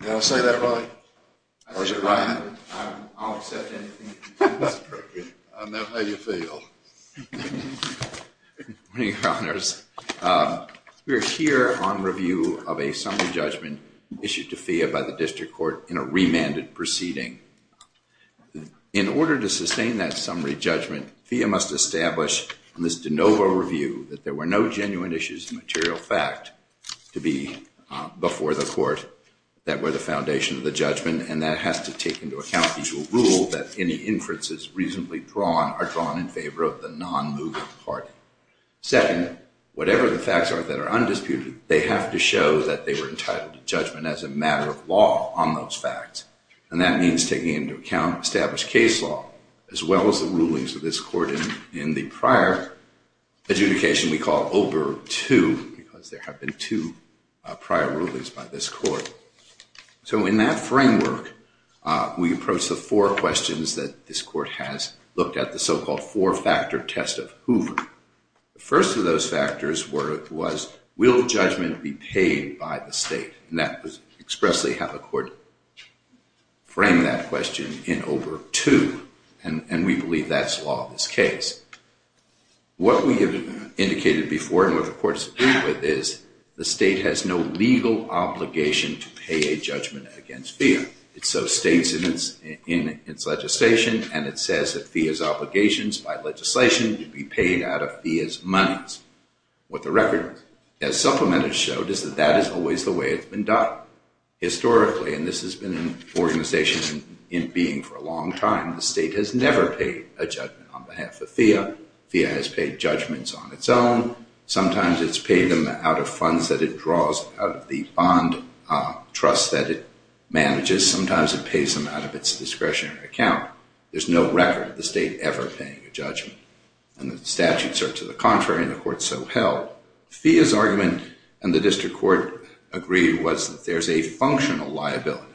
Did I say that right, or is it wrong? I don't accept anything that's inappropriate. I know how you feel. Good morning, Your Honors. We are here on review of a summary judgment issued to FEA by the District Court in a remanded proceeding. In order to sustain that summary judgment, FEA must establish in this de novo review that there were no genuine issues of material fact to be before the Court. That were the foundation of the judgment, and that has to take into account the usual rule that any inferences reasonably drawn are drawn in favor of the non-moving party. Second, whatever the facts are that are undisputed, they have to show that they were entitled to judgment as a matter of law on those facts. And that means taking into account established case law, as well as the rulings of this Court in the prior adjudication we call Oberg 2, because there have been two prior rulings by this Court. So in that framework, we approach the four questions that this Court has looked at, the so-called four-factor test of Hoover. The first of those factors was, will judgment be paid by the State? And that was expressly how the Court framed that question in Oberg 2, and we believe that's law in this case. What we have indicated before and what the Court has agreed with is the State has no legal obligation to pay a judgment against FEA. It so states in its legislation, and it says that FEA's obligations by legislation should be paid out of FEA's monies. What the record has supplemented showed is that that is always the way it's been done. Historically, and this has been an organization in being for a long time, the State has never paid a judgment on behalf of FEA. FEA has paid judgments on its own. Sometimes it's paid them out of funds that it draws out of the bond trust that it manages. Sometimes it pays them out of its discretionary account. There's no record of the State ever paying a judgment, and the statutes are to the contrary, and the Court so held. FEA's argument, and the District Court agreed, was that there's a functional liability.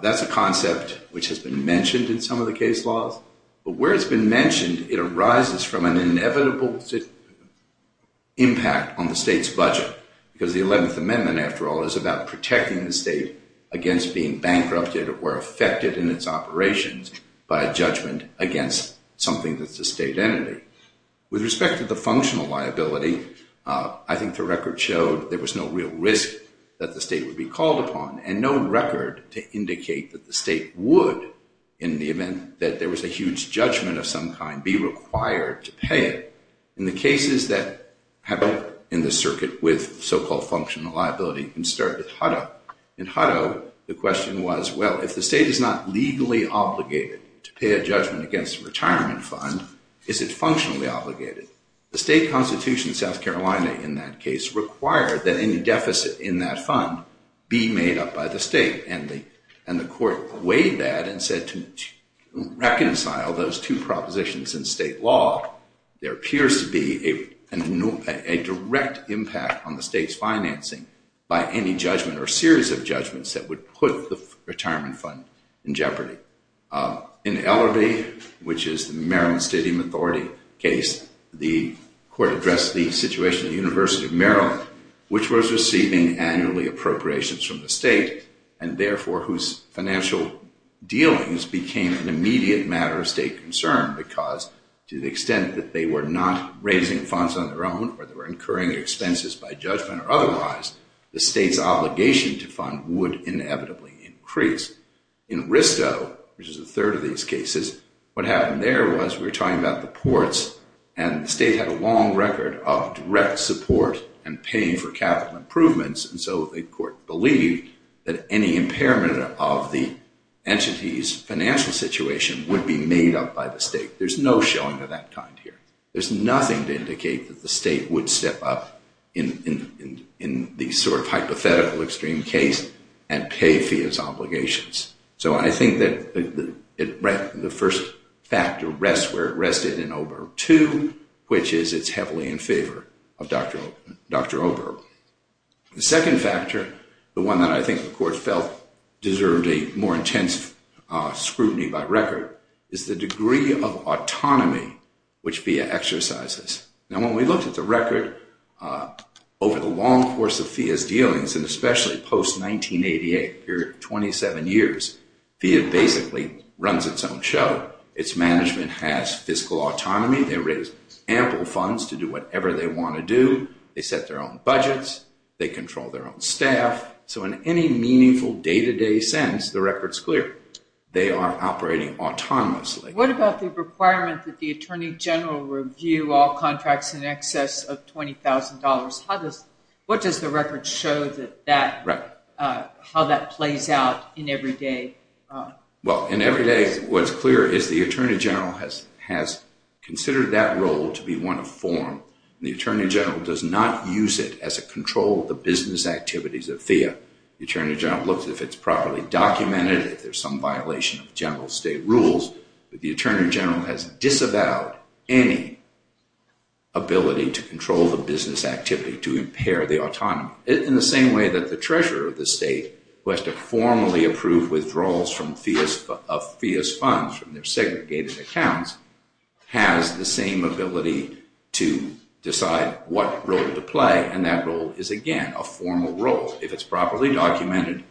That's a concept which has been mentioned in some of the case laws, but where it's been mentioned, it arises from an inevitable impact on the State's budget, because the 11th Amendment, after all, is about protecting the State against being bankrupted or affected in its operations by a judgment against something that's a State entity. With respect to the functional liability, I think the record showed there was no real risk that the State would be called upon, and no record to indicate that the State would, in the event that there was a huge judgment of some kind, be required to pay it. In the cases that happen in the circuit with so-called functional liability, you can start with Hutto. In Hutto, the question was, well, if the State is not legally obligated to pay a judgment against a retirement fund, is it functionally obligated? The State Constitution of South Carolina, in that case, required that any deficit in that fund be made up by the State, and the Court weighed that and said to reconcile those two propositions in State law, there appears to be a direct impact on the State's financing by any judgment or series of judgments that would put the retirement fund in jeopardy. In Ellerbee, which is the Maryland Stadium Authority case, the Court addressed the situation at the University of Maryland, which was receiving annually appropriations from the State, and therefore whose financial dealings became an immediate matter of State concern, because to the extent that they were not raising funds on their own, or they were incurring expenses by judgment or otherwise, the State's obligation to fund would inevitably increase. In Risto, which is the third of these cases, what happened there was we were talking about the ports, and the State had a long record of direct support and paying for capital improvements, and so the Court believed that any impairment of the entity's financial situation would be made up by the State. There's no showing of that kind here. There's nothing to indicate that the State would step up in the sort of hypothetical extreme case and pay for its obligations. So I think that the first factor rests where it rested in Oberl, too, which is it's heavily in favor of Dr. Oberl. The second factor, the one that I think the Court felt deserved a more intense scrutiny by record, is the degree of autonomy which FIIA exercises. Now, when we looked at the record over the long course of FIIA's dealings, and especially post-1988, a period of 27 years, FIIA basically runs its own show. Its management has fiscal autonomy. They raise ample funds to do whatever they want to do. They set their own budgets. They control their own staff. So in any meaningful day-to-day sense, the record's clear. They are operating autonomously. What about the requirement that the Attorney General review all contracts in excess of $20,000? What does the record show how that plays out in every day? Well, in every day, what's clear is the Attorney General has considered that role to be one of form. The Attorney General does not use it as a control of the business activities of FIIA. The Attorney General looks if it's properly documented, if there's some violation of general state rules. But the Attorney General has disavowed any ability to control the business activity to impair the autonomy. In the same way that the treasurer of the state, who has to formally approve withdrawals of FIIA's funds from their segregated accounts, has the same ability to decide what role to play, and that role is, again, a formal role. If it's properly documented,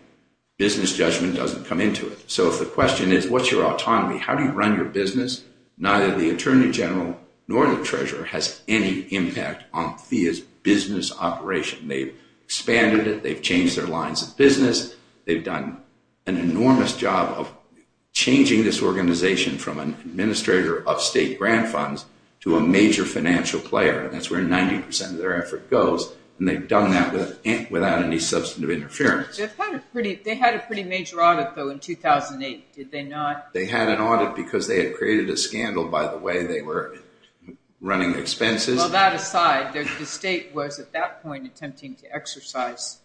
business judgment doesn't come into it. So if the question is, what's your autonomy? How do you run your business? Neither the Attorney General nor the treasurer has any impact on FIIA's business operation. They've expanded it. They've changed their lines of business. They've done an enormous job of changing this organization from an administrator of state grant funds to a major financial player, and that's where 90% of their effort goes, and they've done that without any substantive interference. They had a pretty major audit, though, in 2008, did they not? They had an audit because they had created a scandal by the way they were running expenses. Well, that aside, the state was at that point attempting to exercise,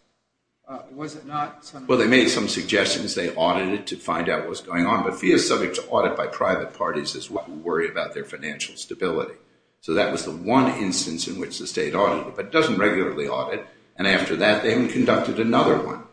was it not? Well, they made some suggestions. They audited to find out what was going on, but FIIA is subject to audit by private parties as well who worry about their financial stability. So that was the one instance in which the state audited, but it doesn't regularly audit, and after that they conducted another one,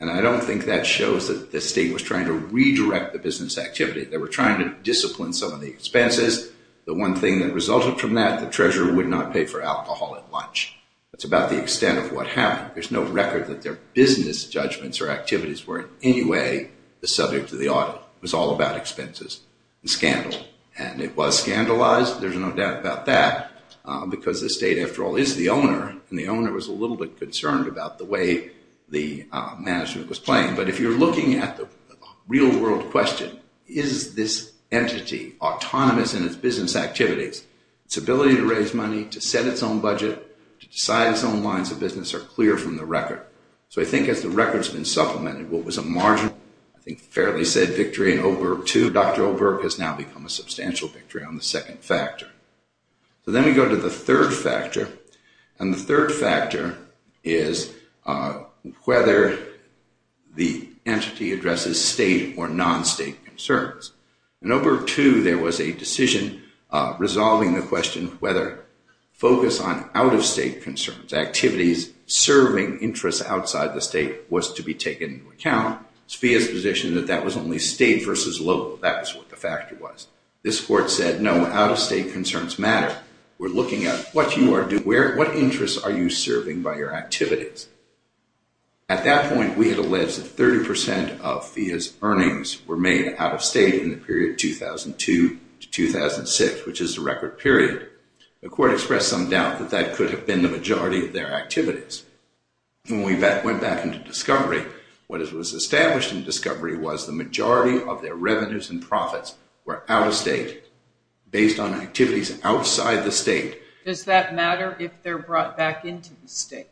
and I don't think that shows that the state was trying to redirect the business activity. They were trying to discipline some of the expenses. The one thing that resulted from that, the treasurer would not pay for alcohol at lunch. That's about the extent of what happened. There's no record that their business judgments or activities were in any way subject to the audit. It was all about expenses and scandal, and it was scandalized. There's no doubt about that because the state, after all, is the owner, and the owner was a little bit concerned about the way the management was playing, but if you're looking at the real-world question, is this entity autonomous in its business activities, its ability to raise money, to set its own budget, to decide its own lines of business are clear from the record. So I think as the record's been supplemented, what was a margin, I think fairly said victory in Oberg 2, Dr. Oberg has now become a substantial victory on the second factor. So then we go to the third factor, and the third factor is whether the entity addresses state or non-state concerns. In Oberg 2, there was a decision resolving the question whether focus on out-of-state concerns, activities serving interests outside the state, was to be taken into account. Spheer's position that that was only state versus local, that was what the factor was. This court said, no, out-of-state concerns matter. We're looking at what you are doing, what interests are you serving by your activities. At that point, we had alleged that 30% of Spheer's earnings were made out-of-state in the period 2002 to 2006, which is the record period. The court expressed some doubt that that could have been the majority of their activities. When we went back into discovery, what was established in discovery was the majority of their revenues and profits were out-of-state, based on activities outside the state. Does that matter if they're brought back into the state?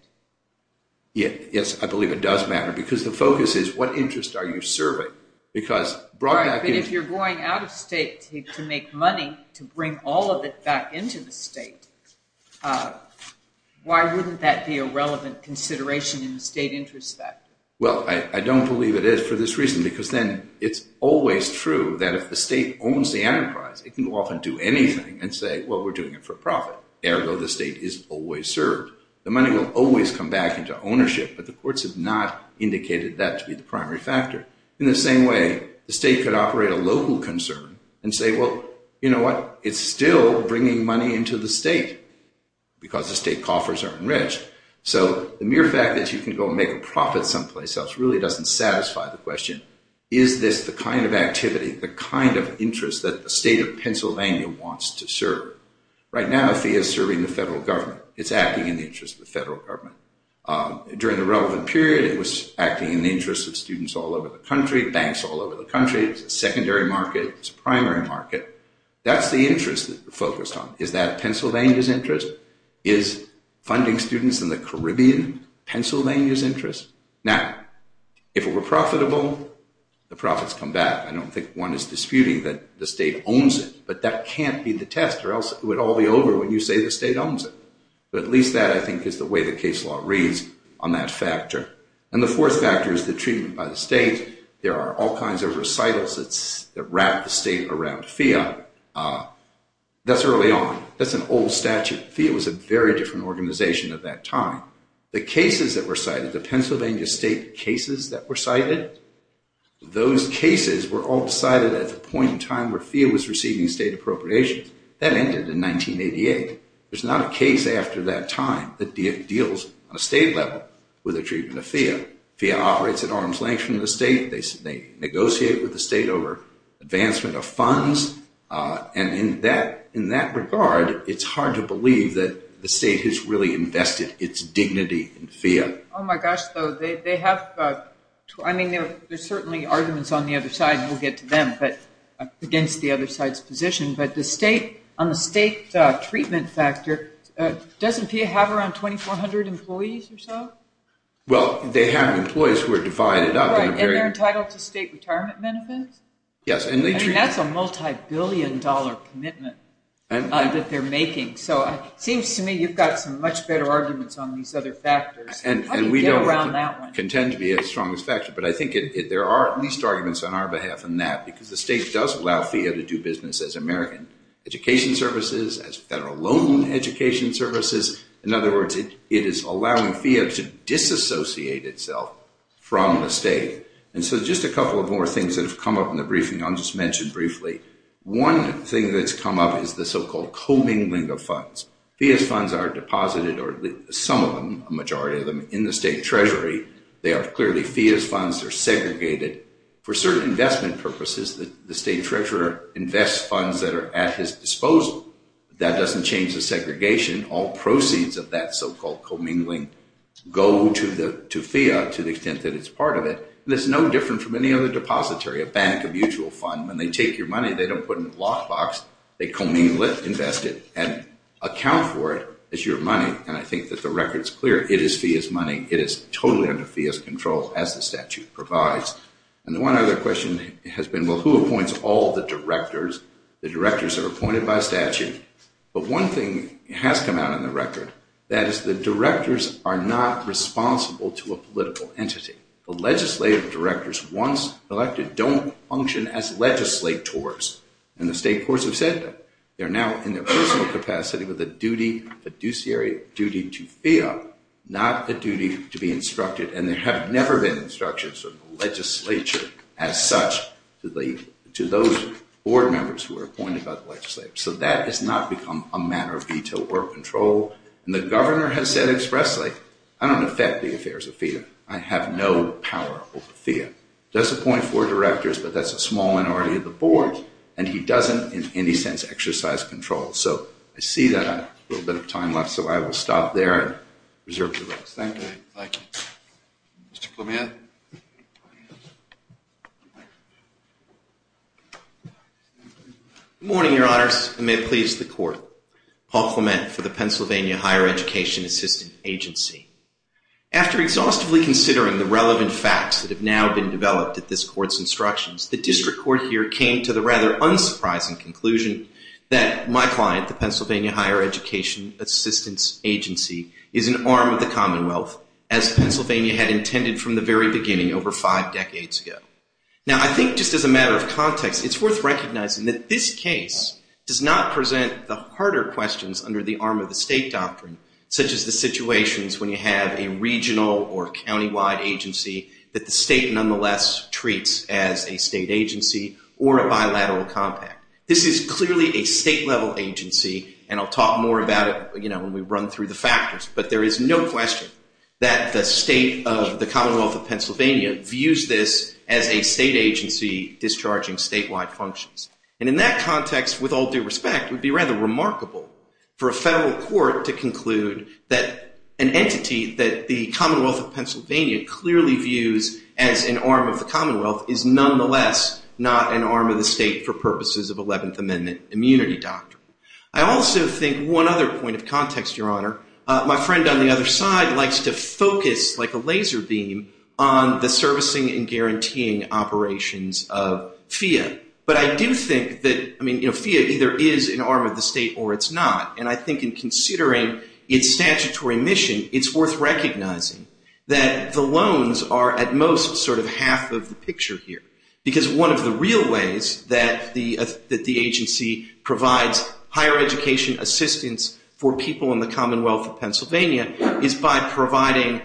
Yes, I believe it does matter, because the focus is what interests are you serving? But if you're going out-of-state to make money to bring all of it back into the state, why wouldn't that be a relevant consideration in the state interest factor? Well, I don't believe it is for this reason, because then it's always true that if the state owns the enterprise, it can go off and do anything and say, well, we're doing it for profit. Ergo, the state is always served. The money will always come back into ownership, but the courts have not indicated that to be the primary factor. In the same way, the state could operate a local concern and say, well, you know what? It's still bringing money into the state, because the state coffers are enriched. So the mere fact that you can go and make a profit someplace else really doesn't satisfy the question, is this the kind of activity, the kind of interest that the state of Pennsylvania wants to serve? Right now, the fee is serving the federal government. It's acting in the interest of the federal government. During the relevant period, it was acting in the interest of students all over the country, banks all over the country. It's a secondary market. It's a primary market. That's the interest that we're focused on. Is that Pennsylvania's interest? Is funding students in the Caribbean Pennsylvania's interest? Now, if it were profitable, the profits come back. I don't think one is disputing that the state owns it, but that can't be the test, or else it would all be over when you say the state owns it. But at least that, I think, is the way the case law reads on that factor. And the fourth factor is the treatment by the state. There are all kinds of recitals that wrap the state around fiat. That's early on. That's an old statute. Fiat was a very different organization at that time. The cases that were cited, the Pennsylvania state cases that were cited, those cases were all decided at the point in time where fiat was receiving state appropriations. That ended in 1988. There's not a case after that time that deals on a state level with the treatment of fiat. Fiat operates at arm's length from the state. They negotiate with the state over advancement of funds. And in that regard, it's hard to believe that the state has really invested its dignity in fiat. Oh, my gosh, though. I mean, there's certainly arguments on the other side, and we'll get to them, but I'm against the other side's position. But on the state treatment factor, doesn't fiat have around 2,400 employees or so? Well, they have employees who are divided up. And they're entitled to state retirement benefits? Yes. I mean, that's a multibillion-dollar commitment that they're making. So it seems to me you've got some much better arguments on these other factors. And we don't contend to be as strong as fact, but I think there are at least arguments on our behalf on that because the state does allow fiat to do business as American education services, as federal loan education services. In other words, it is allowing fiat to disassociate itself from the state. And so just a couple of more things that have come up in the briefing I'll just mention briefly. One thing that's come up is the so-called commingling of funds. Fiat funds are deposited, or some of them, a majority of them, in the state treasury. They are clearly fiat funds. They're segregated. For certain investment purposes, the state treasurer invests funds that are at his disposal. That doesn't change the segregation. All proceeds of that so-called commingling go to fiat to the extent that it's part of it. And it's no different from any other depository, a bank, a mutual fund. When they take your money, they don't put it in a lockbox. They commingle it, invest it, and account for it as your money. And I think that the record's clear. It is fiat money. It is totally under fiat control as the statute provides. And one other question has been, well, who appoints all the directors? The directors are appointed by statute. But one thing has come out in the record. That is the directors are not responsible to a political entity. The legislative directors once elected don't function as legislators. And the state courts have said that. They're now in their personal capacity with a duty, a fiduciary duty to fiat, not a duty to be instructed. And there have never been instructions from the legislature as such to those board members who are appointed by the legislature. So that has not become a matter of veto or control. And the governor has said expressly, I don't affect the affairs of fiat. I have no power over fiat. Does appoint four directors, but that's a small minority of the board. And he doesn't in any sense exercise control. So I see that I have a little bit of time left, so I will stop there and reserve the rest. Thank you. Thank you. Mr. Clement? Good morning, Your Honors, and may it please the Court. Paul Clement for the Pennsylvania Higher Education Assistance Agency. After exhaustively considering the relevant facts that have now been developed at this court's instructions, the district court here came to the rather unsurprising conclusion that my client, the Pennsylvania Higher Education Assistance Agency, is an arm of the Commonwealth, as Pennsylvania had intended from the very beginning over five decades ago. Now, I think just as a matter of context, it's worth recognizing that this case does not present the harder questions under the arm of the state doctrine, such as the situations when you have a regional or countywide agency that the state nonetheless treats as a state agency or a bilateral compact. This is clearly a state-level agency, and I'll talk more about it when we run through the factors, but there is no question that the state of the Commonwealth of Pennsylvania views this as a state agency discharging statewide functions. And in that context, with all due respect, it would be rather remarkable for a federal court to conclude that an entity that the Commonwealth of Pennsylvania clearly views as an arm of the Commonwealth is nonetheless not an arm of the state for purposes of 11th Amendment immunity doctrine. I also think one other point of context, Your Honor, my friend on the other side likes to focus like a laser beam on the servicing and guaranteeing operations of FEA. But I do think that, I mean, you know, FEA either is an arm of the state or it's not. And I think in considering its statutory mission, it's worth recognizing that the loans are at most sort of half of the picture here, because one of the real ways that the agency provides higher education assistance for people in the Commonwealth of Pennsylvania is by providing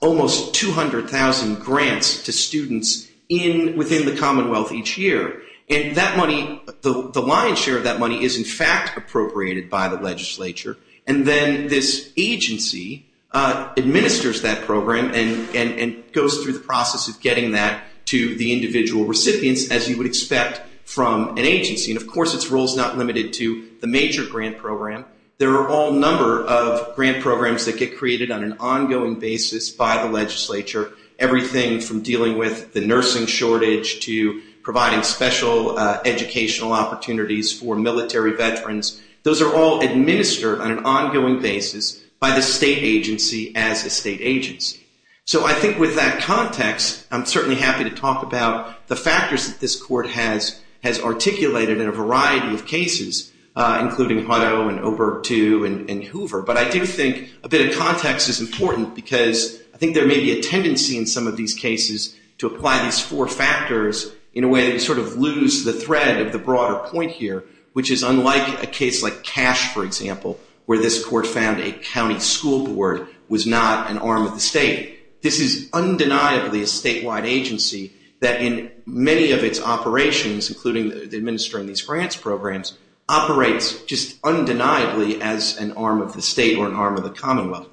almost 200,000 grants to students within the Commonwealth each year. And that money, the lion's share of that money is in fact appropriated by the legislature. And then this agency administers that program and goes through the process of getting that to the individual recipients as you would expect from an agency. And of course, its role is not limited to the major grant program. There are all number of grant programs that get created on an ongoing basis by the legislature, everything from dealing with the nursing shortage to providing special educational opportunities for military veterans. Those are all administered on an ongoing basis by the state agency as a state agency. So I think with that context, I'm certainly happy to talk about the factors that this court has articulated in a variety of cases, including Hutto and Oberto and Hoover. But I do think a bit of context is important, because I think there may be a tendency in some of these cases to apply these four factors in a way that we sort of lose the thread of the broader point here, which is unlike a case like Cash, for example, where this court found a county school board was not an arm of the state. This is undeniably a statewide agency that in many of its operations, including administering these grants programs, operates just undeniably as an arm of the state or an arm of the commonwealth.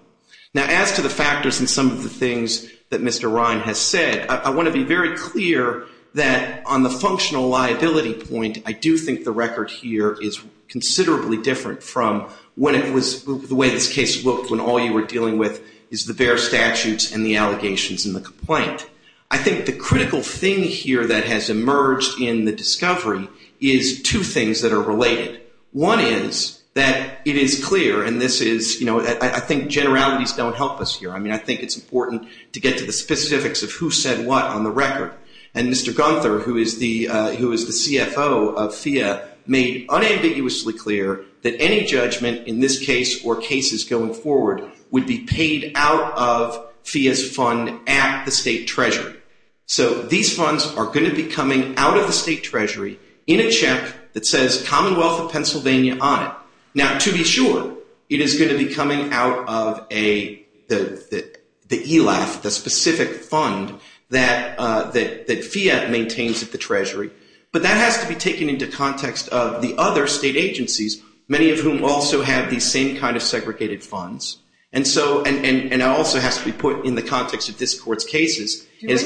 Now, as to the factors in some of the things that Mr. Ryan has said, I want to be very clear that on the functional liability point, I do think the record here is considerably different from the way this case looked when all you were dealing with is the bare statutes and the allegations and the complaint. I think the critical thing here that has emerged in the discovery is two things that are related. One is that it is clear, and this is, you know, I think generalities don't help us here. I mean, I think it's important to get to the specifics of who said what on the record. And Mr. Gunther, who is the CFO of FEA, made unambiguously clear that any judgment in this case or cases going forward would be paid out of FEA's fund at the state treasury. So these funds are going to be coming out of the state treasury in a check that says Commonwealth of Pennsylvania on it. Now, to be sure, it is going to be coming out of the ELAF, the specific fund that FEA maintains at the treasury, but that has to be taken into context of the other state agencies, many of whom also have these same kind of segregated funds. And so it also has to be put in the context of this court's cases. Excuse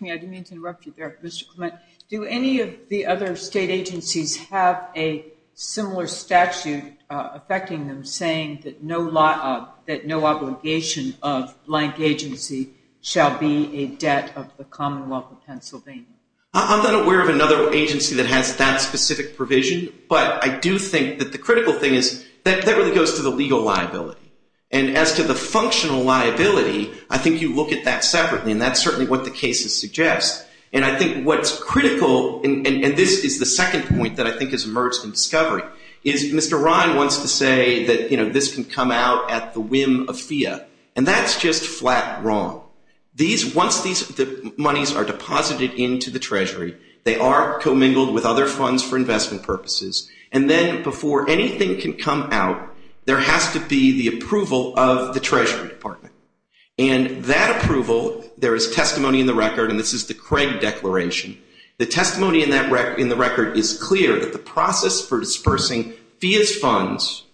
me, I didn't mean to interrupt you there, Mr. Clement. Do any of the other state agencies have a similar statute affecting them saying that no obligation of blank agency shall be a debt of the Commonwealth of Pennsylvania? I'm not aware of another agency that has that specific provision, but I do think that the critical thing is that that really goes to the legal liability. And as to the functional liability, I think you look at that separately, and that's certainly what the cases suggest. And I think what's critical, and this is the second point that I think has emerged in discovery, is Mr. Ryan wants to say that, you know, this can come out at the whim of FEA, and that's just flat wrong. Once these monies are deposited into the treasury, they are commingled with other funds for investment purposes, and then before anything can come out, there has to be the approval of the Treasury Department. And that approval, there is testimony in the record, and this is the Craig Declaration. The testimony in the record is clear that the process for dispersing FEA's funds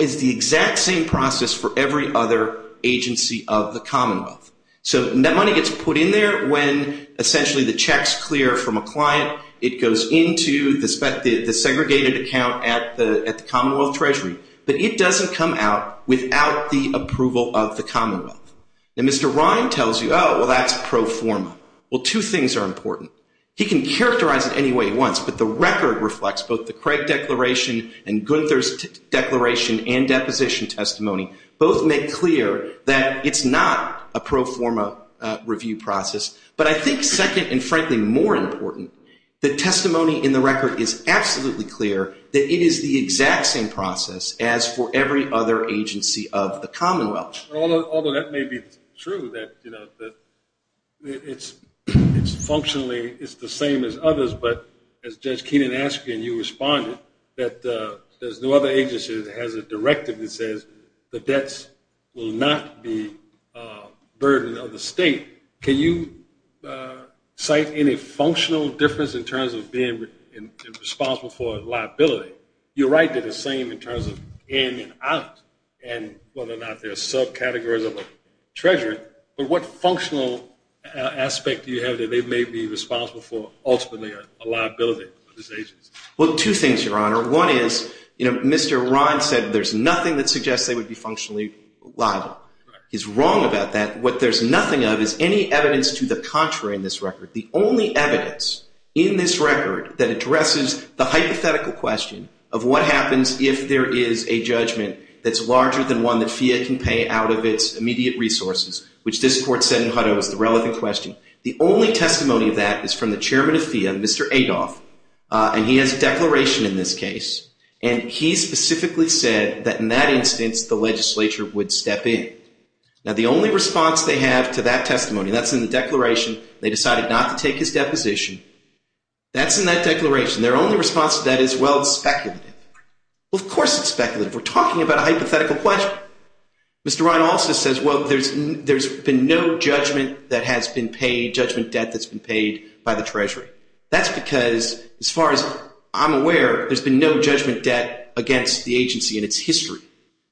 is the exact same process for every other agency of the Commonwealth. So that money gets put in there when essentially the check's clear from a client, it goes into the segregated account at the Commonwealth Treasury, but it doesn't come out without the approval of the Commonwealth. And Mr. Ryan tells you, oh, well, that's pro forma. Well, two things are important. He can characterize it any way he wants, but the record reflects both the Craig Declaration and Gunther's declaration and deposition testimony both make clear that it's not a pro forma review process. But I think second and, frankly, more important, the testimony in the record is absolutely clear that it is the exact same process as for every other agency of the Commonwealth. Although that may be true that it's functionally the same as others, but as Judge Keenan asked you and you responded, that there's no other agency that has a directive that says the debts will not be burden of the state. Can you cite any functional difference in terms of being responsible for liability? You're right that it's the same in terms of in and out and whether or not there are subcategories of a treasurer, but what functional aspect do you have that they may be responsible for ultimately a liability? Well, two things, Your Honor. One is, you know, Mr. Rod said there's nothing that suggests they would be functionally liable. He's wrong about that. What there's nothing of is any evidence to the contrary in this record. The only evidence in this record that addresses the hypothetical question of what happens if there is a judgment that's larger than one that FIA can pay out of its immediate resources, which this Court said in Hutto is the relevant question, the only testimony of that is from the chairman of FIA, Mr. Adolph, and he has a declaration in this case, and he specifically said that in that instance the legislature would step in. Now, the only response they have to that testimony, that's in the declaration, they decided not to take his deposition, that's in that declaration. Their only response to that is, well, it's speculative. Well, of course it's speculative. We're talking about a hypothetical question. Mr. Ryan also says, well, there's been no judgment that has been paid, judgment debt that's been paid by the Treasury. That's because, as far as I'm aware, there's been no judgment debt against the agency in its history.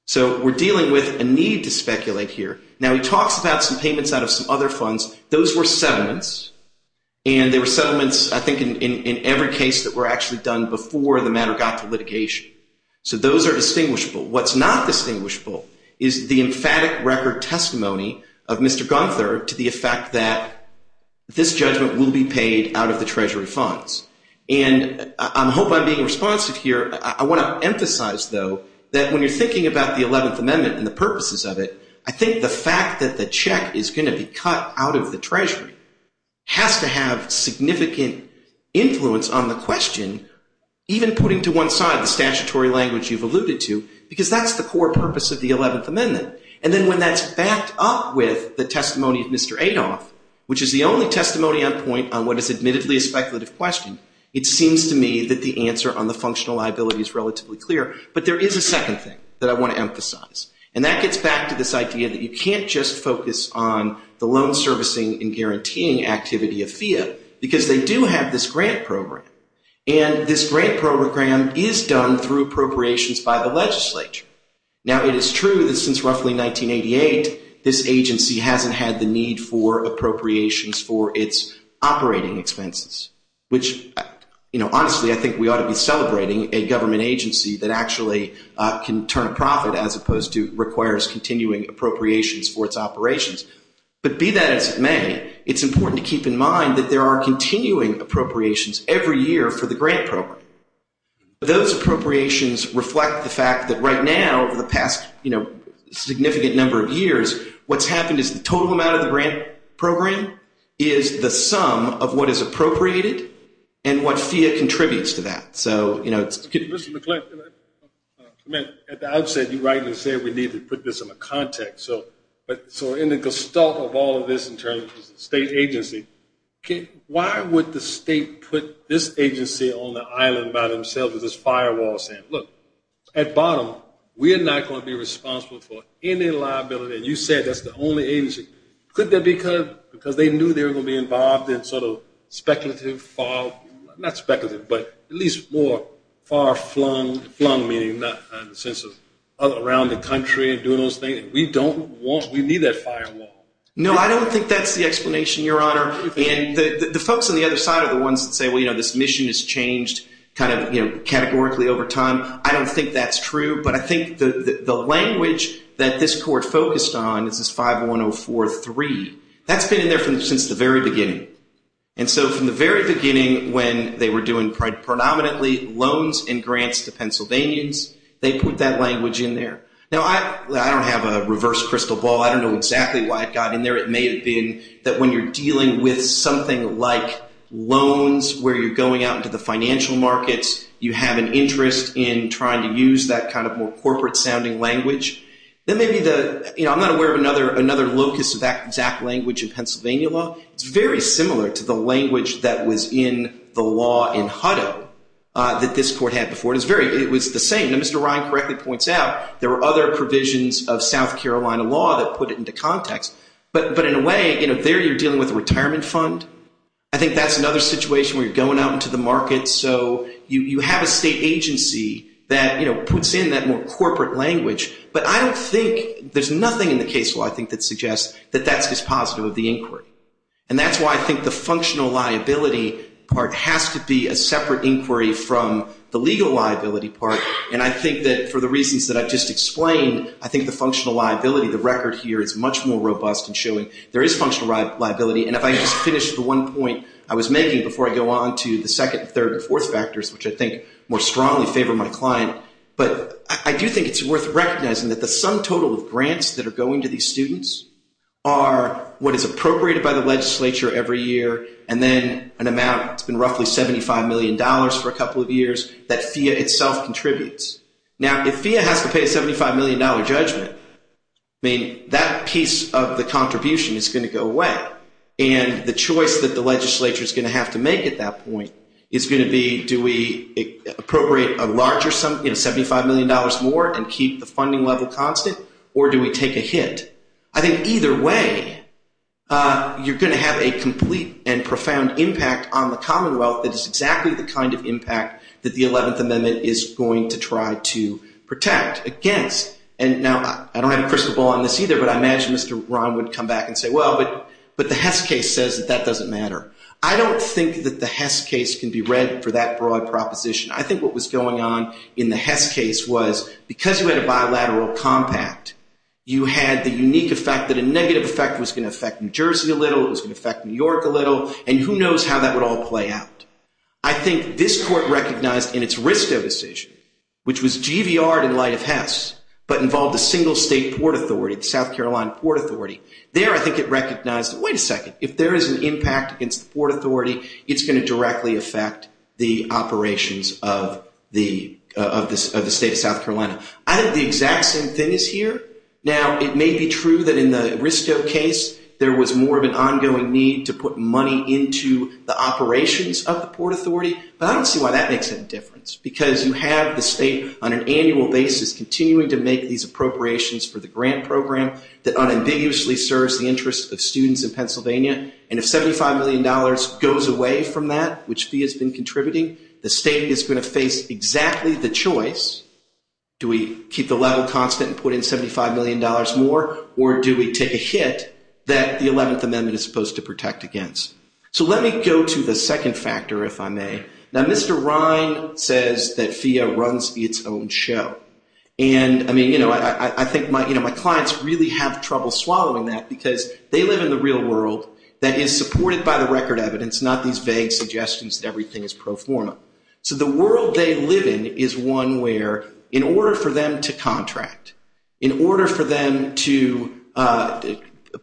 So we're dealing with a need to speculate here. Now, he talks about some payments out of some other funds. Those were settlements, and they were settlements, I think, in every case that were actually done before the matter got to litigation. So those are distinguishable. What's not distinguishable is the emphatic record testimony of Mr. Gunther to the effect that this judgment will be paid out of the Treasury funds. And I hope I'm being responsive here. I want to emphasize, though, that when you're thinking about the 11th Amendment and the purposes of it, I think the fact that the check is going to be cut out of the Treasury has to have significant influence on the question, even putting to one side the statutory language you've alluded to, because that's the core purpose of the 11th Amendment. And then when that's backed up with the testimony of Mr. Adolph, which is the only testimony on point on what is admittedly a speculative question, it seems to me that the answer on the functional liability is relatively clear. But there is a second thing that I want to emphasize, and that gets back to this idea that you can't just focus on the loan servicing and guaranteeing activity of FIA because they do have this grant program. And this grant program is done through appropriations by the legislature. Now, it is true that since roughly 1988, this agency hasn't had the need for appropriations for its operating expenses, which, honestly, I think we ought to be celebrating a government agency that actually can turn a profit as opposed to requires continuing appropriations for its operations. But be that as it may, it's important to keep in mind that there are continuing appropriations every year for the grant program. But those appropriations reflect the fact that right now, over the past significant number of years, what's happened is the total amount of the grant program is the sum of what is appropriated and what FIA contributes to that. Mr. McLintock, at the outset, you rightly said we need to put this into context. So in the gestalt of all of this in terms of the state agency, why would the state put this agency on the island by themselves as this firewall saying, look, at bottom, we are not going to be responsible for any liability. And you said that's the only agency. Could that be because they knew they were going to be involved in sort of speculative, not speculative, but at least more far-flung, not in the sense of around the country and doing those things? We don't want, we need that firewall. No, I don't think that's the explanation, Your Honor. And the folks on the other side are the ones that say, well, you know, this mission has changed kind of categorically over time. I don't think that's true. But I think the language that this court focused on is this 51043. That's been in there since the very beginning. And so from the very beginning, when they were doing predominantly loans and grants to Pennsylvanians, they put that language in there. Now, I don't have a reverse crystal ball. I don't know exactly why it got in there. It may have been that when you're dealing with something like loans, where you're going out into the financial markets, you have an interest in trying to use that kind of more corporate-sounding language. Then maybe the, you know, I'm not aware of another locus of that exact language in Pennsylvania law. It's very similar to the language that was in the law in Hutto that this court had before. It was the same. Now, Mr. Ryan correctly points out there were other provisions of South Carolina law that put it into context. But in a way, you know, there you're dealing with a retirement fund. I think that's another situation where you're going out into the market. So you have a state agency that, you know, puts in that more corporate language. But I don't think there's nothing in the case law I think that suggests that that's just positive of the inquiry. And that's why I think the functional liability part has to be a separate inquiry from the legal liability part. And I think that for the reasons that I've just explained, I think the functional liability, the record here, is much more robust in showing there is functional liability. And if I could just finish the one point I was making before I go on to the second, third, and fourth factors, which I think more strongly favor my client. But I do think it's worth recognizing that the sum total of grants that are going to these students are what is appropriated by the legislature every year and then an amount that's been roughly $75 million for a couple of years that FEA itself contributes. Now, if FEA has to pay a $75 million judgment, I mean, that piece of the contribution is going to go away. And the choice that the legislature is going to have to make at that point is going to be do we appropriate a larger sum, you know, $75 million more and keep the funding level constant, or do we take a hit? I think either way, you're going to have a complete and profound impact on the Commonwealth that is exactly the kind of impact that the 11th Amendment is going to try to protect against. And now, I don't have a crystal ball on this either, but I imagine Mr. Rahn would come back and say, well, but the Hess case says that that doesn't matter. I don't think that the Hess case can be read for that broad proposition. I think what was going on in the Hess case was because you had a bilateral compact, you had the unique effect that a negative effect was going to affect New Jersey a little, it was going to affect New York a little, and who knows how that would all play out. I think this court recognized in its Risto decision, which was GVR'd in light of Hess, but involved a single state port authority, the South Carolina Port Authority. There, I think it recognized, wait a second, if there is an impact against the port authority, it's going to directly affect the operations of the state of South Carolina. I think the exact same thing is here. Now, it may be true that in the Risto case, there was more of an ongoing need to put money into the operations of the port authority, but I don't see why that makes any difference, because you have the state on an annual basis continuing to make these appropriations for the grant program that unambiguously serves the interests of students in Pennsylvania, and if $75 million goes away from that, which fee has been contributing, the state is going to face exactly the choice, do we keep the level constant and put in $75 million more, or do we take a hit that the 11th Amendment is supposed to protect against. So let me go to the second factor, if I may. Now, Mr. Ryan says that FIA runs its own show, and I think my clients really have trouble swallowing that, because they live in the real world that is supported by the record evidence, not these vague suggestions that everything is pro forma. So the world they live in is one where, in order for them to contract, in order for them to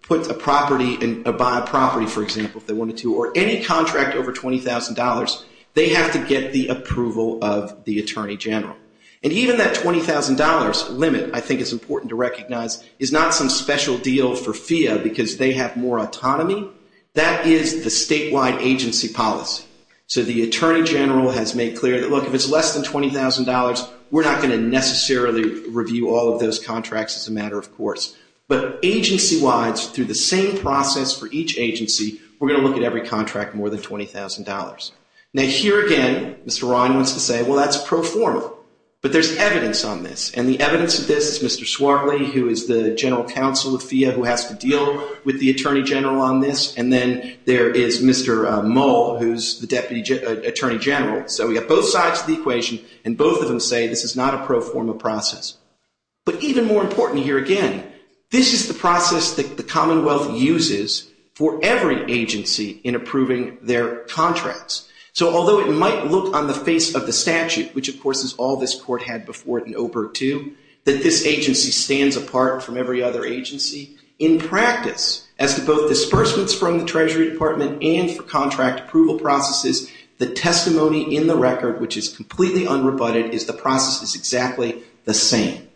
put a property and buy a property, for example, if they wanted to, or any contract over $20,000, they have to get the approval of the Attorney General. And even that $20,000 limit, I think it's important to recognize, is not some special deal for FIA because they have more autonomy. That is the statewide agency policy. So the Attorney General has made clear that, look, if it's less than $20,000, we're not going to necessarily review all of those contracts as a matter of course. But agency-wise, through the same process for each agency, we're going to look at every contract more than $20,000. Now, here again, Mr. Ryan wants to say, well, that's pro forma. But there's evidence on this, and the evidence of this is Mr. Swartley, who is the General Counsel of FIA, who has to deal with the Attorney General on this. And then there is Mr. Moll, who's the Deputy Attorney General. So we have both sides of the equation, and both of them say this is not a pro forma process. But even more important here again, this is the process that the Commonwealth uses for every agency in approving their contracts. So although it might look on the face of the statute, which of course is all this Court had before it in OBERG II, that this agency stands apart from every other agency, in practice, as to both disbursements from the Treasury Department and for contract approval processes, the testimony in the record, which is completely unrebutted, is the process is exactly the same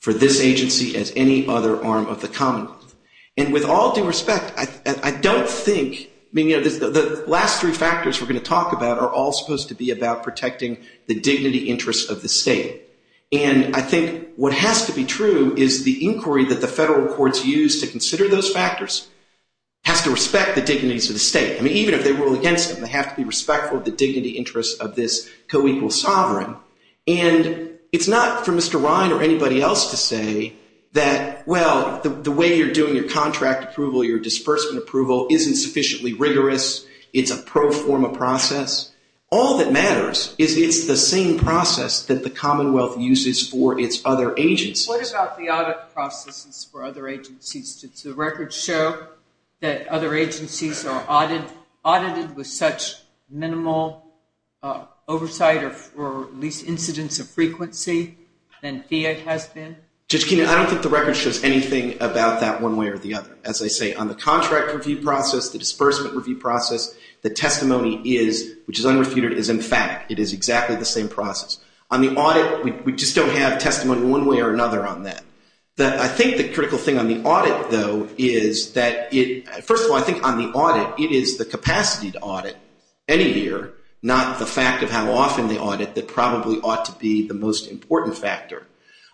for this agency as any other arm of the Commonwealth. And with all due respect, I don't think, I mean, you know, the last three factors we're going to talk about are all supposed to be about protecting the dignity interests of the state. And I think what has to be true is the inquiry that the federal courts use to consider those factors has to respect the dignities of the state. I mean, even if they rule against them, they have to be respectful of the dignity interests of this co-equal sovereign. And it's not for Mr. Ryan or anybody else to say that, well, the way you're doing your contract approval, your disbursement approval, isn't sufficiently rigorous. It's a pro forma process. All that matters is it's the same process that the Commonwealth uses for its other agencies. What about the audit processes for other agencies? Does the record show that other agencies are audited with such minimal oversight or at least incidence of frequency than FIA has been? Judge Keenan, I don't think the record shows anything about that one way or the other. As I say, on the contract review process, the disbursement review process, the testimony is, which is unrebutted, is, in fact, it is exactly the same process. On the audit, we just don't have testimony one way or another on that. I think the critical thing on the audit, though, is that, first of all, I think on the audit, it is the capacity to audit any year, not the fact of how often they audit that probably ought to be the most important factor.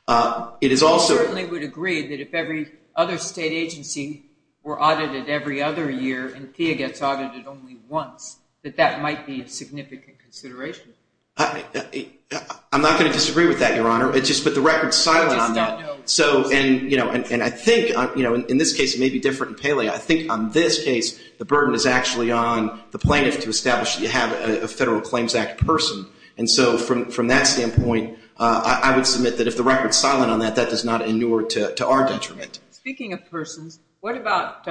I certainly would agree that if every other state agency were audited every other year and FIA gets audited only once, that that might be a significant consideration. I'm not going to disagree with that, Your Honor. It's just that the record is silent on that. I just don't know. And I think in this case it may be different in Paley. I think on this case the burden is actually on the plaintiff to establish that you have a Federal Claims Act person. And so from that standpoint, I would submit that if the record is silent on that, that does not inure to our detriment. Speaking of persons, what about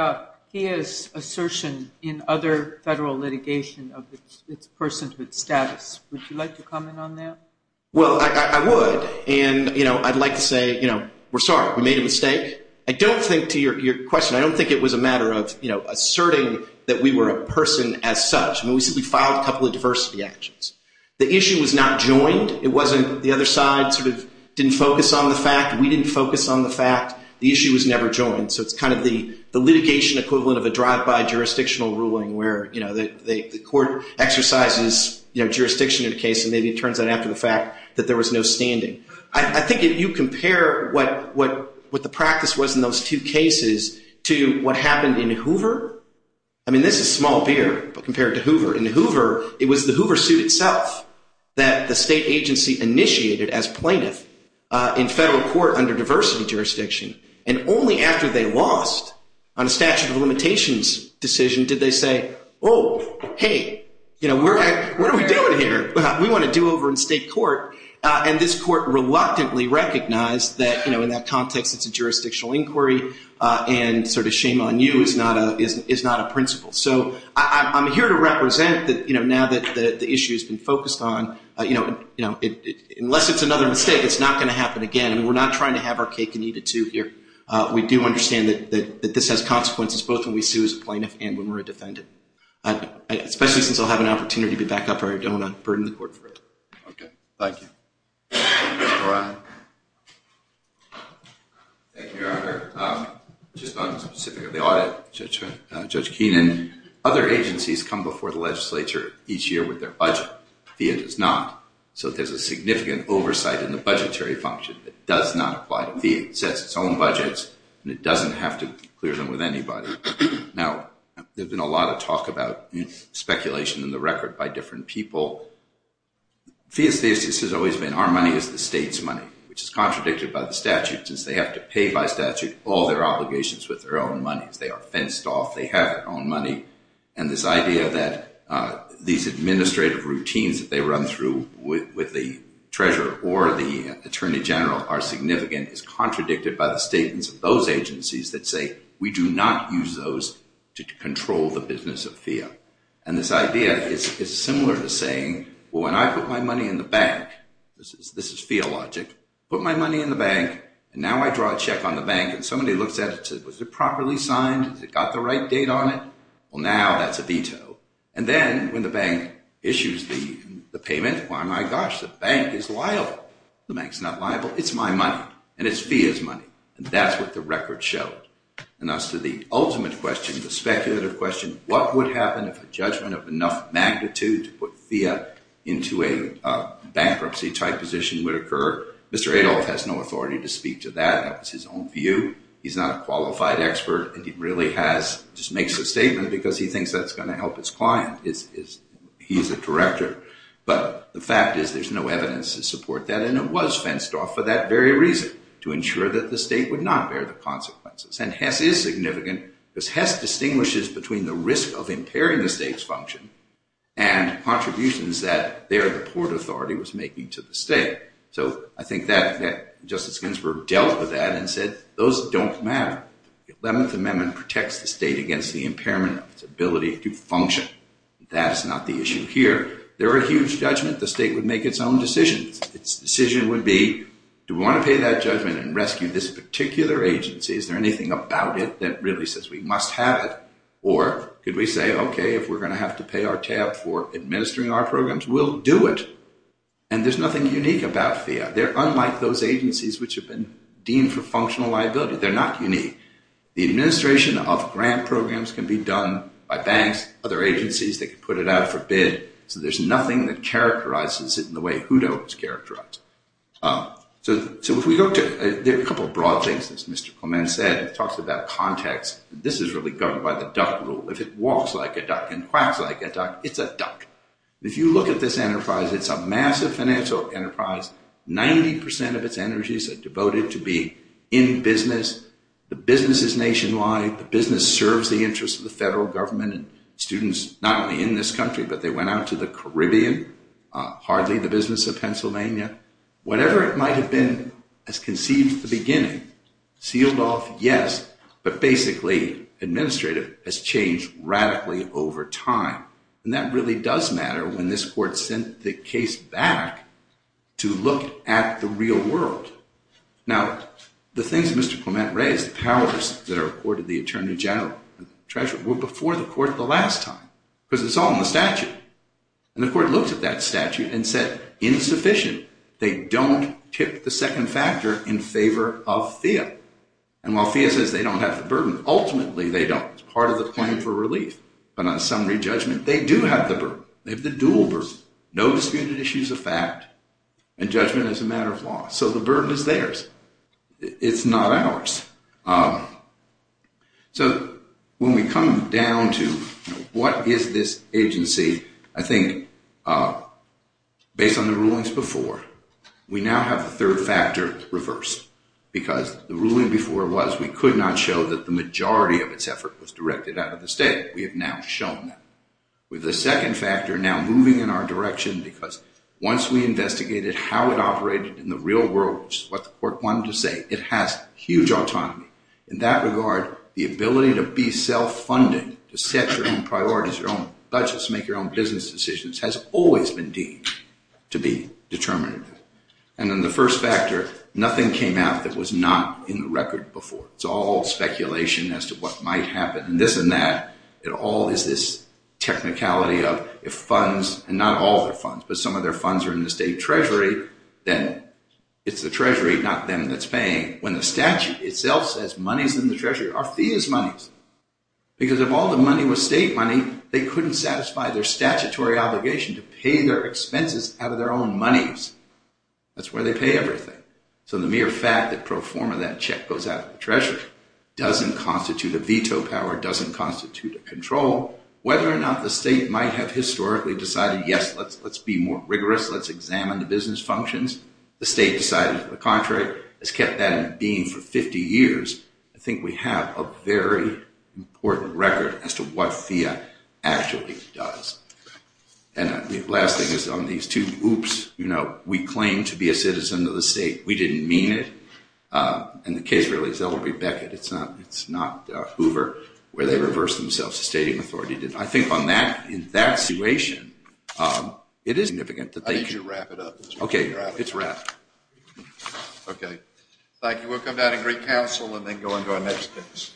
FIA's assertion in other federal litigation of its personhood status? Would you like to comment on that? Well, I would. And, you know, I'd like to say, you know, we're sorry, we made a mistake. I don't think, to your question, I don't think it was a matter of, you know, asserting that we were a person as such. We filed a couple of diversity actions. The issue was not joined. It wasn't the other side sort of didn't focus on the fact. We didn't focus on the fact. The issue was never joined. So it's kind of the litigation equivalent of a drive-by jurisdictional ruling where, you know, the court exercises, you know, jurisdiction in a case, and maybe it turns out after the fact that there was no standing. I think if you compare what the practice was in those two cases to what happened in Hoover, I mean, this is small beer, but compare it to Hoover. In Hoover, it was the Hoover suit itself that the state agency initiated as plaintiff in federal court under diversity jurisdiction, and only after they lost on a statute of limitations decision did they say, oh, hey, you know, what are we doing here? We want to do over in state court. And this court reluctantly recognized that, you know, in that context, it's a jurisdictional inquiry and sort of shame on you is not a principle. So I'm here to represent that, you know, now that the issue has been focused on, you know, unless it's another mistake, it's not going to happen again. And we're not trying to have our cake and eat it too here. We do understand that this has consequences both when we sue as a plaintiff and when we're a defendant, especially since I'll have an opportunity to back up or I don't want to burden the court for it. Okay. Thank you. All right. Thank you, Your Honor. Just on the specific of the audit, Judge Keenan, other agencies come before the legislature each year with their budget. FIIA does not. So there's a significant oversight in the budgetary function that does not apply to FIIA. It sets its own budgets and it doesn't have to clear them with anybody. Now, there's been a lot of talk about speculation in the record by different people. FIIA's thesis has always been our money is the state's money, which is contradicted by the statute since they have to pay by statute all their obligations with their own money. They are fenced off. They have their own money. And this idea that these administrative routines that they run through with the treasurer or the attorney general are significant is contradicted by the statements of those agencies that say, we do not use those to control the business of FIIA. And this idea is similar to saying, well, when I put my money in the bank, this is FIIA logic, put my money in the bank and now I draw a check on the bank and somebody looks at it and says, well, is it properly signed? Has it got the right date on it? Well, now that's a veto. And then when the bank issues the payment, well, my gosh, the bank is liable. The bank's not liable. It's my money and it's FIIA's money. And that's what the record showed. And as to the ultimate question, the speculative question, what would happen if a judgment of enough magnitude to put FIIA into a bankruptcy-type position would occur? Mr. Adolph has no authority to speak to that. That was his own view. He's not a qualified expert and he really has just makes a statement because he thinks that's going to help his client. He's a director. But the fact is there's no evidence to support that. And it was fenced off for that very reason, to ensure that the state would not bear the consequences. And Hess is significant because Hess distinguishes between the risk of impairing the state's function and contributions that their report authority was making to the state. So I think that Justice Ginsburg dealt with that and said those don't matter. The Eleventh Amendment protects the state against the impairment of its ability to function. That is not the issue here. There are huge judgments. The state would make its own decisions. Its decision would be, do we want to pay that judgment and rescue this particular agency? Is there anything about it that really says we must have it? Or could we say, okay, if we're going to have to pay our tab for administering our programs, we'll do it. And there's nothing unique about FIIA. They're unlike those agencies which have been deemed for functional liability. They're not unique. The administration of grant programs can be done by banks, other agencies. They can put it out for bid. So there's nothing that characterizes it in the way HUDO is characterized. So if we go to a couple of broad things, as Mr. Clement said, it talks about context. This is really governed by the duck rule. If you look at this enterprise, it's a massive financial enterprise. Ninety percent of its energies are devoted to be in business. The business is nationwide. The business serves the interests of the federal government and students not only in this country, but they went out to the Caribbean, hardly the business of Pennsylvania. Whatever it might have been as conceived at the beginning, sealed off, yes, but basically administrative has changed radically over time. And that really does matter when this court sent the case back to look at the real world. Now, the things Mr. Clement raised, the powers that are accorded to the attorney general, the treasurer, were before the court the last time because it's all in the statute. And the court looked at that statute and said insufficient. They don't tip the second factor in favor of FIIA. And while FIIA says they don't have the burden, ultimately they don't. It's part of the claim for relief. But on summary judgment, they do have the burden. They have the dual burden, no disputed issues of fact, and judgment is a matter of law. So the burden is theirs. It's not ours. So when we come down to what is this agency, I think based on the rulings before, we now have the third factor reversed because the ruling before was we could not show that the majority of its effort was directed out of the state. We have now shown that. With the second factor now moving in our direction because once we investigated how it operated in the real world, which is what the court wanted to say, it has huge autonomy. In that regard, the ability to be self-funded, to set your own priorities, your own budgets, make your own business decisions, has always been deemed to be determinative. And then the first factor, nothing came out that was not in the record before. It's all speculation as to what might happen. And this and that, it all is this technicality of if funds, and not all their funds, but some of their funds are in the state treasury, then it's the treasury, not them, that's paying. When the statute itself says money is in the treasury, our fee is money. Because if all the money was state money, they couldn't satisfy their statutory obligation to pay their expenses out of their own monies. That's where they pay everything. So the mere fact that pro forma that check goes out of the treasury doesn't constitute a veto power, doesn't constitute a control, whether or not the state might have historically decided, yes, let's be more rigorous, let's examine the business functions, the state decided to the contrary, has kept that in being for 50 years. I think we have a very important record as to what FIA actually does. And the last thing is on these two, oops, you know, we claim to be a citizen of the state. We didn't mean it. And the case really is that it will be Beckett. It's not Hoover where they reversed themselves. The state authority didn't. I think on that, in that situation, it is significant that they... I need you to wrap it up as well. Okay, it's wrapped. Okay. Thank you. We'll come down and greet counsel and then go into our next case.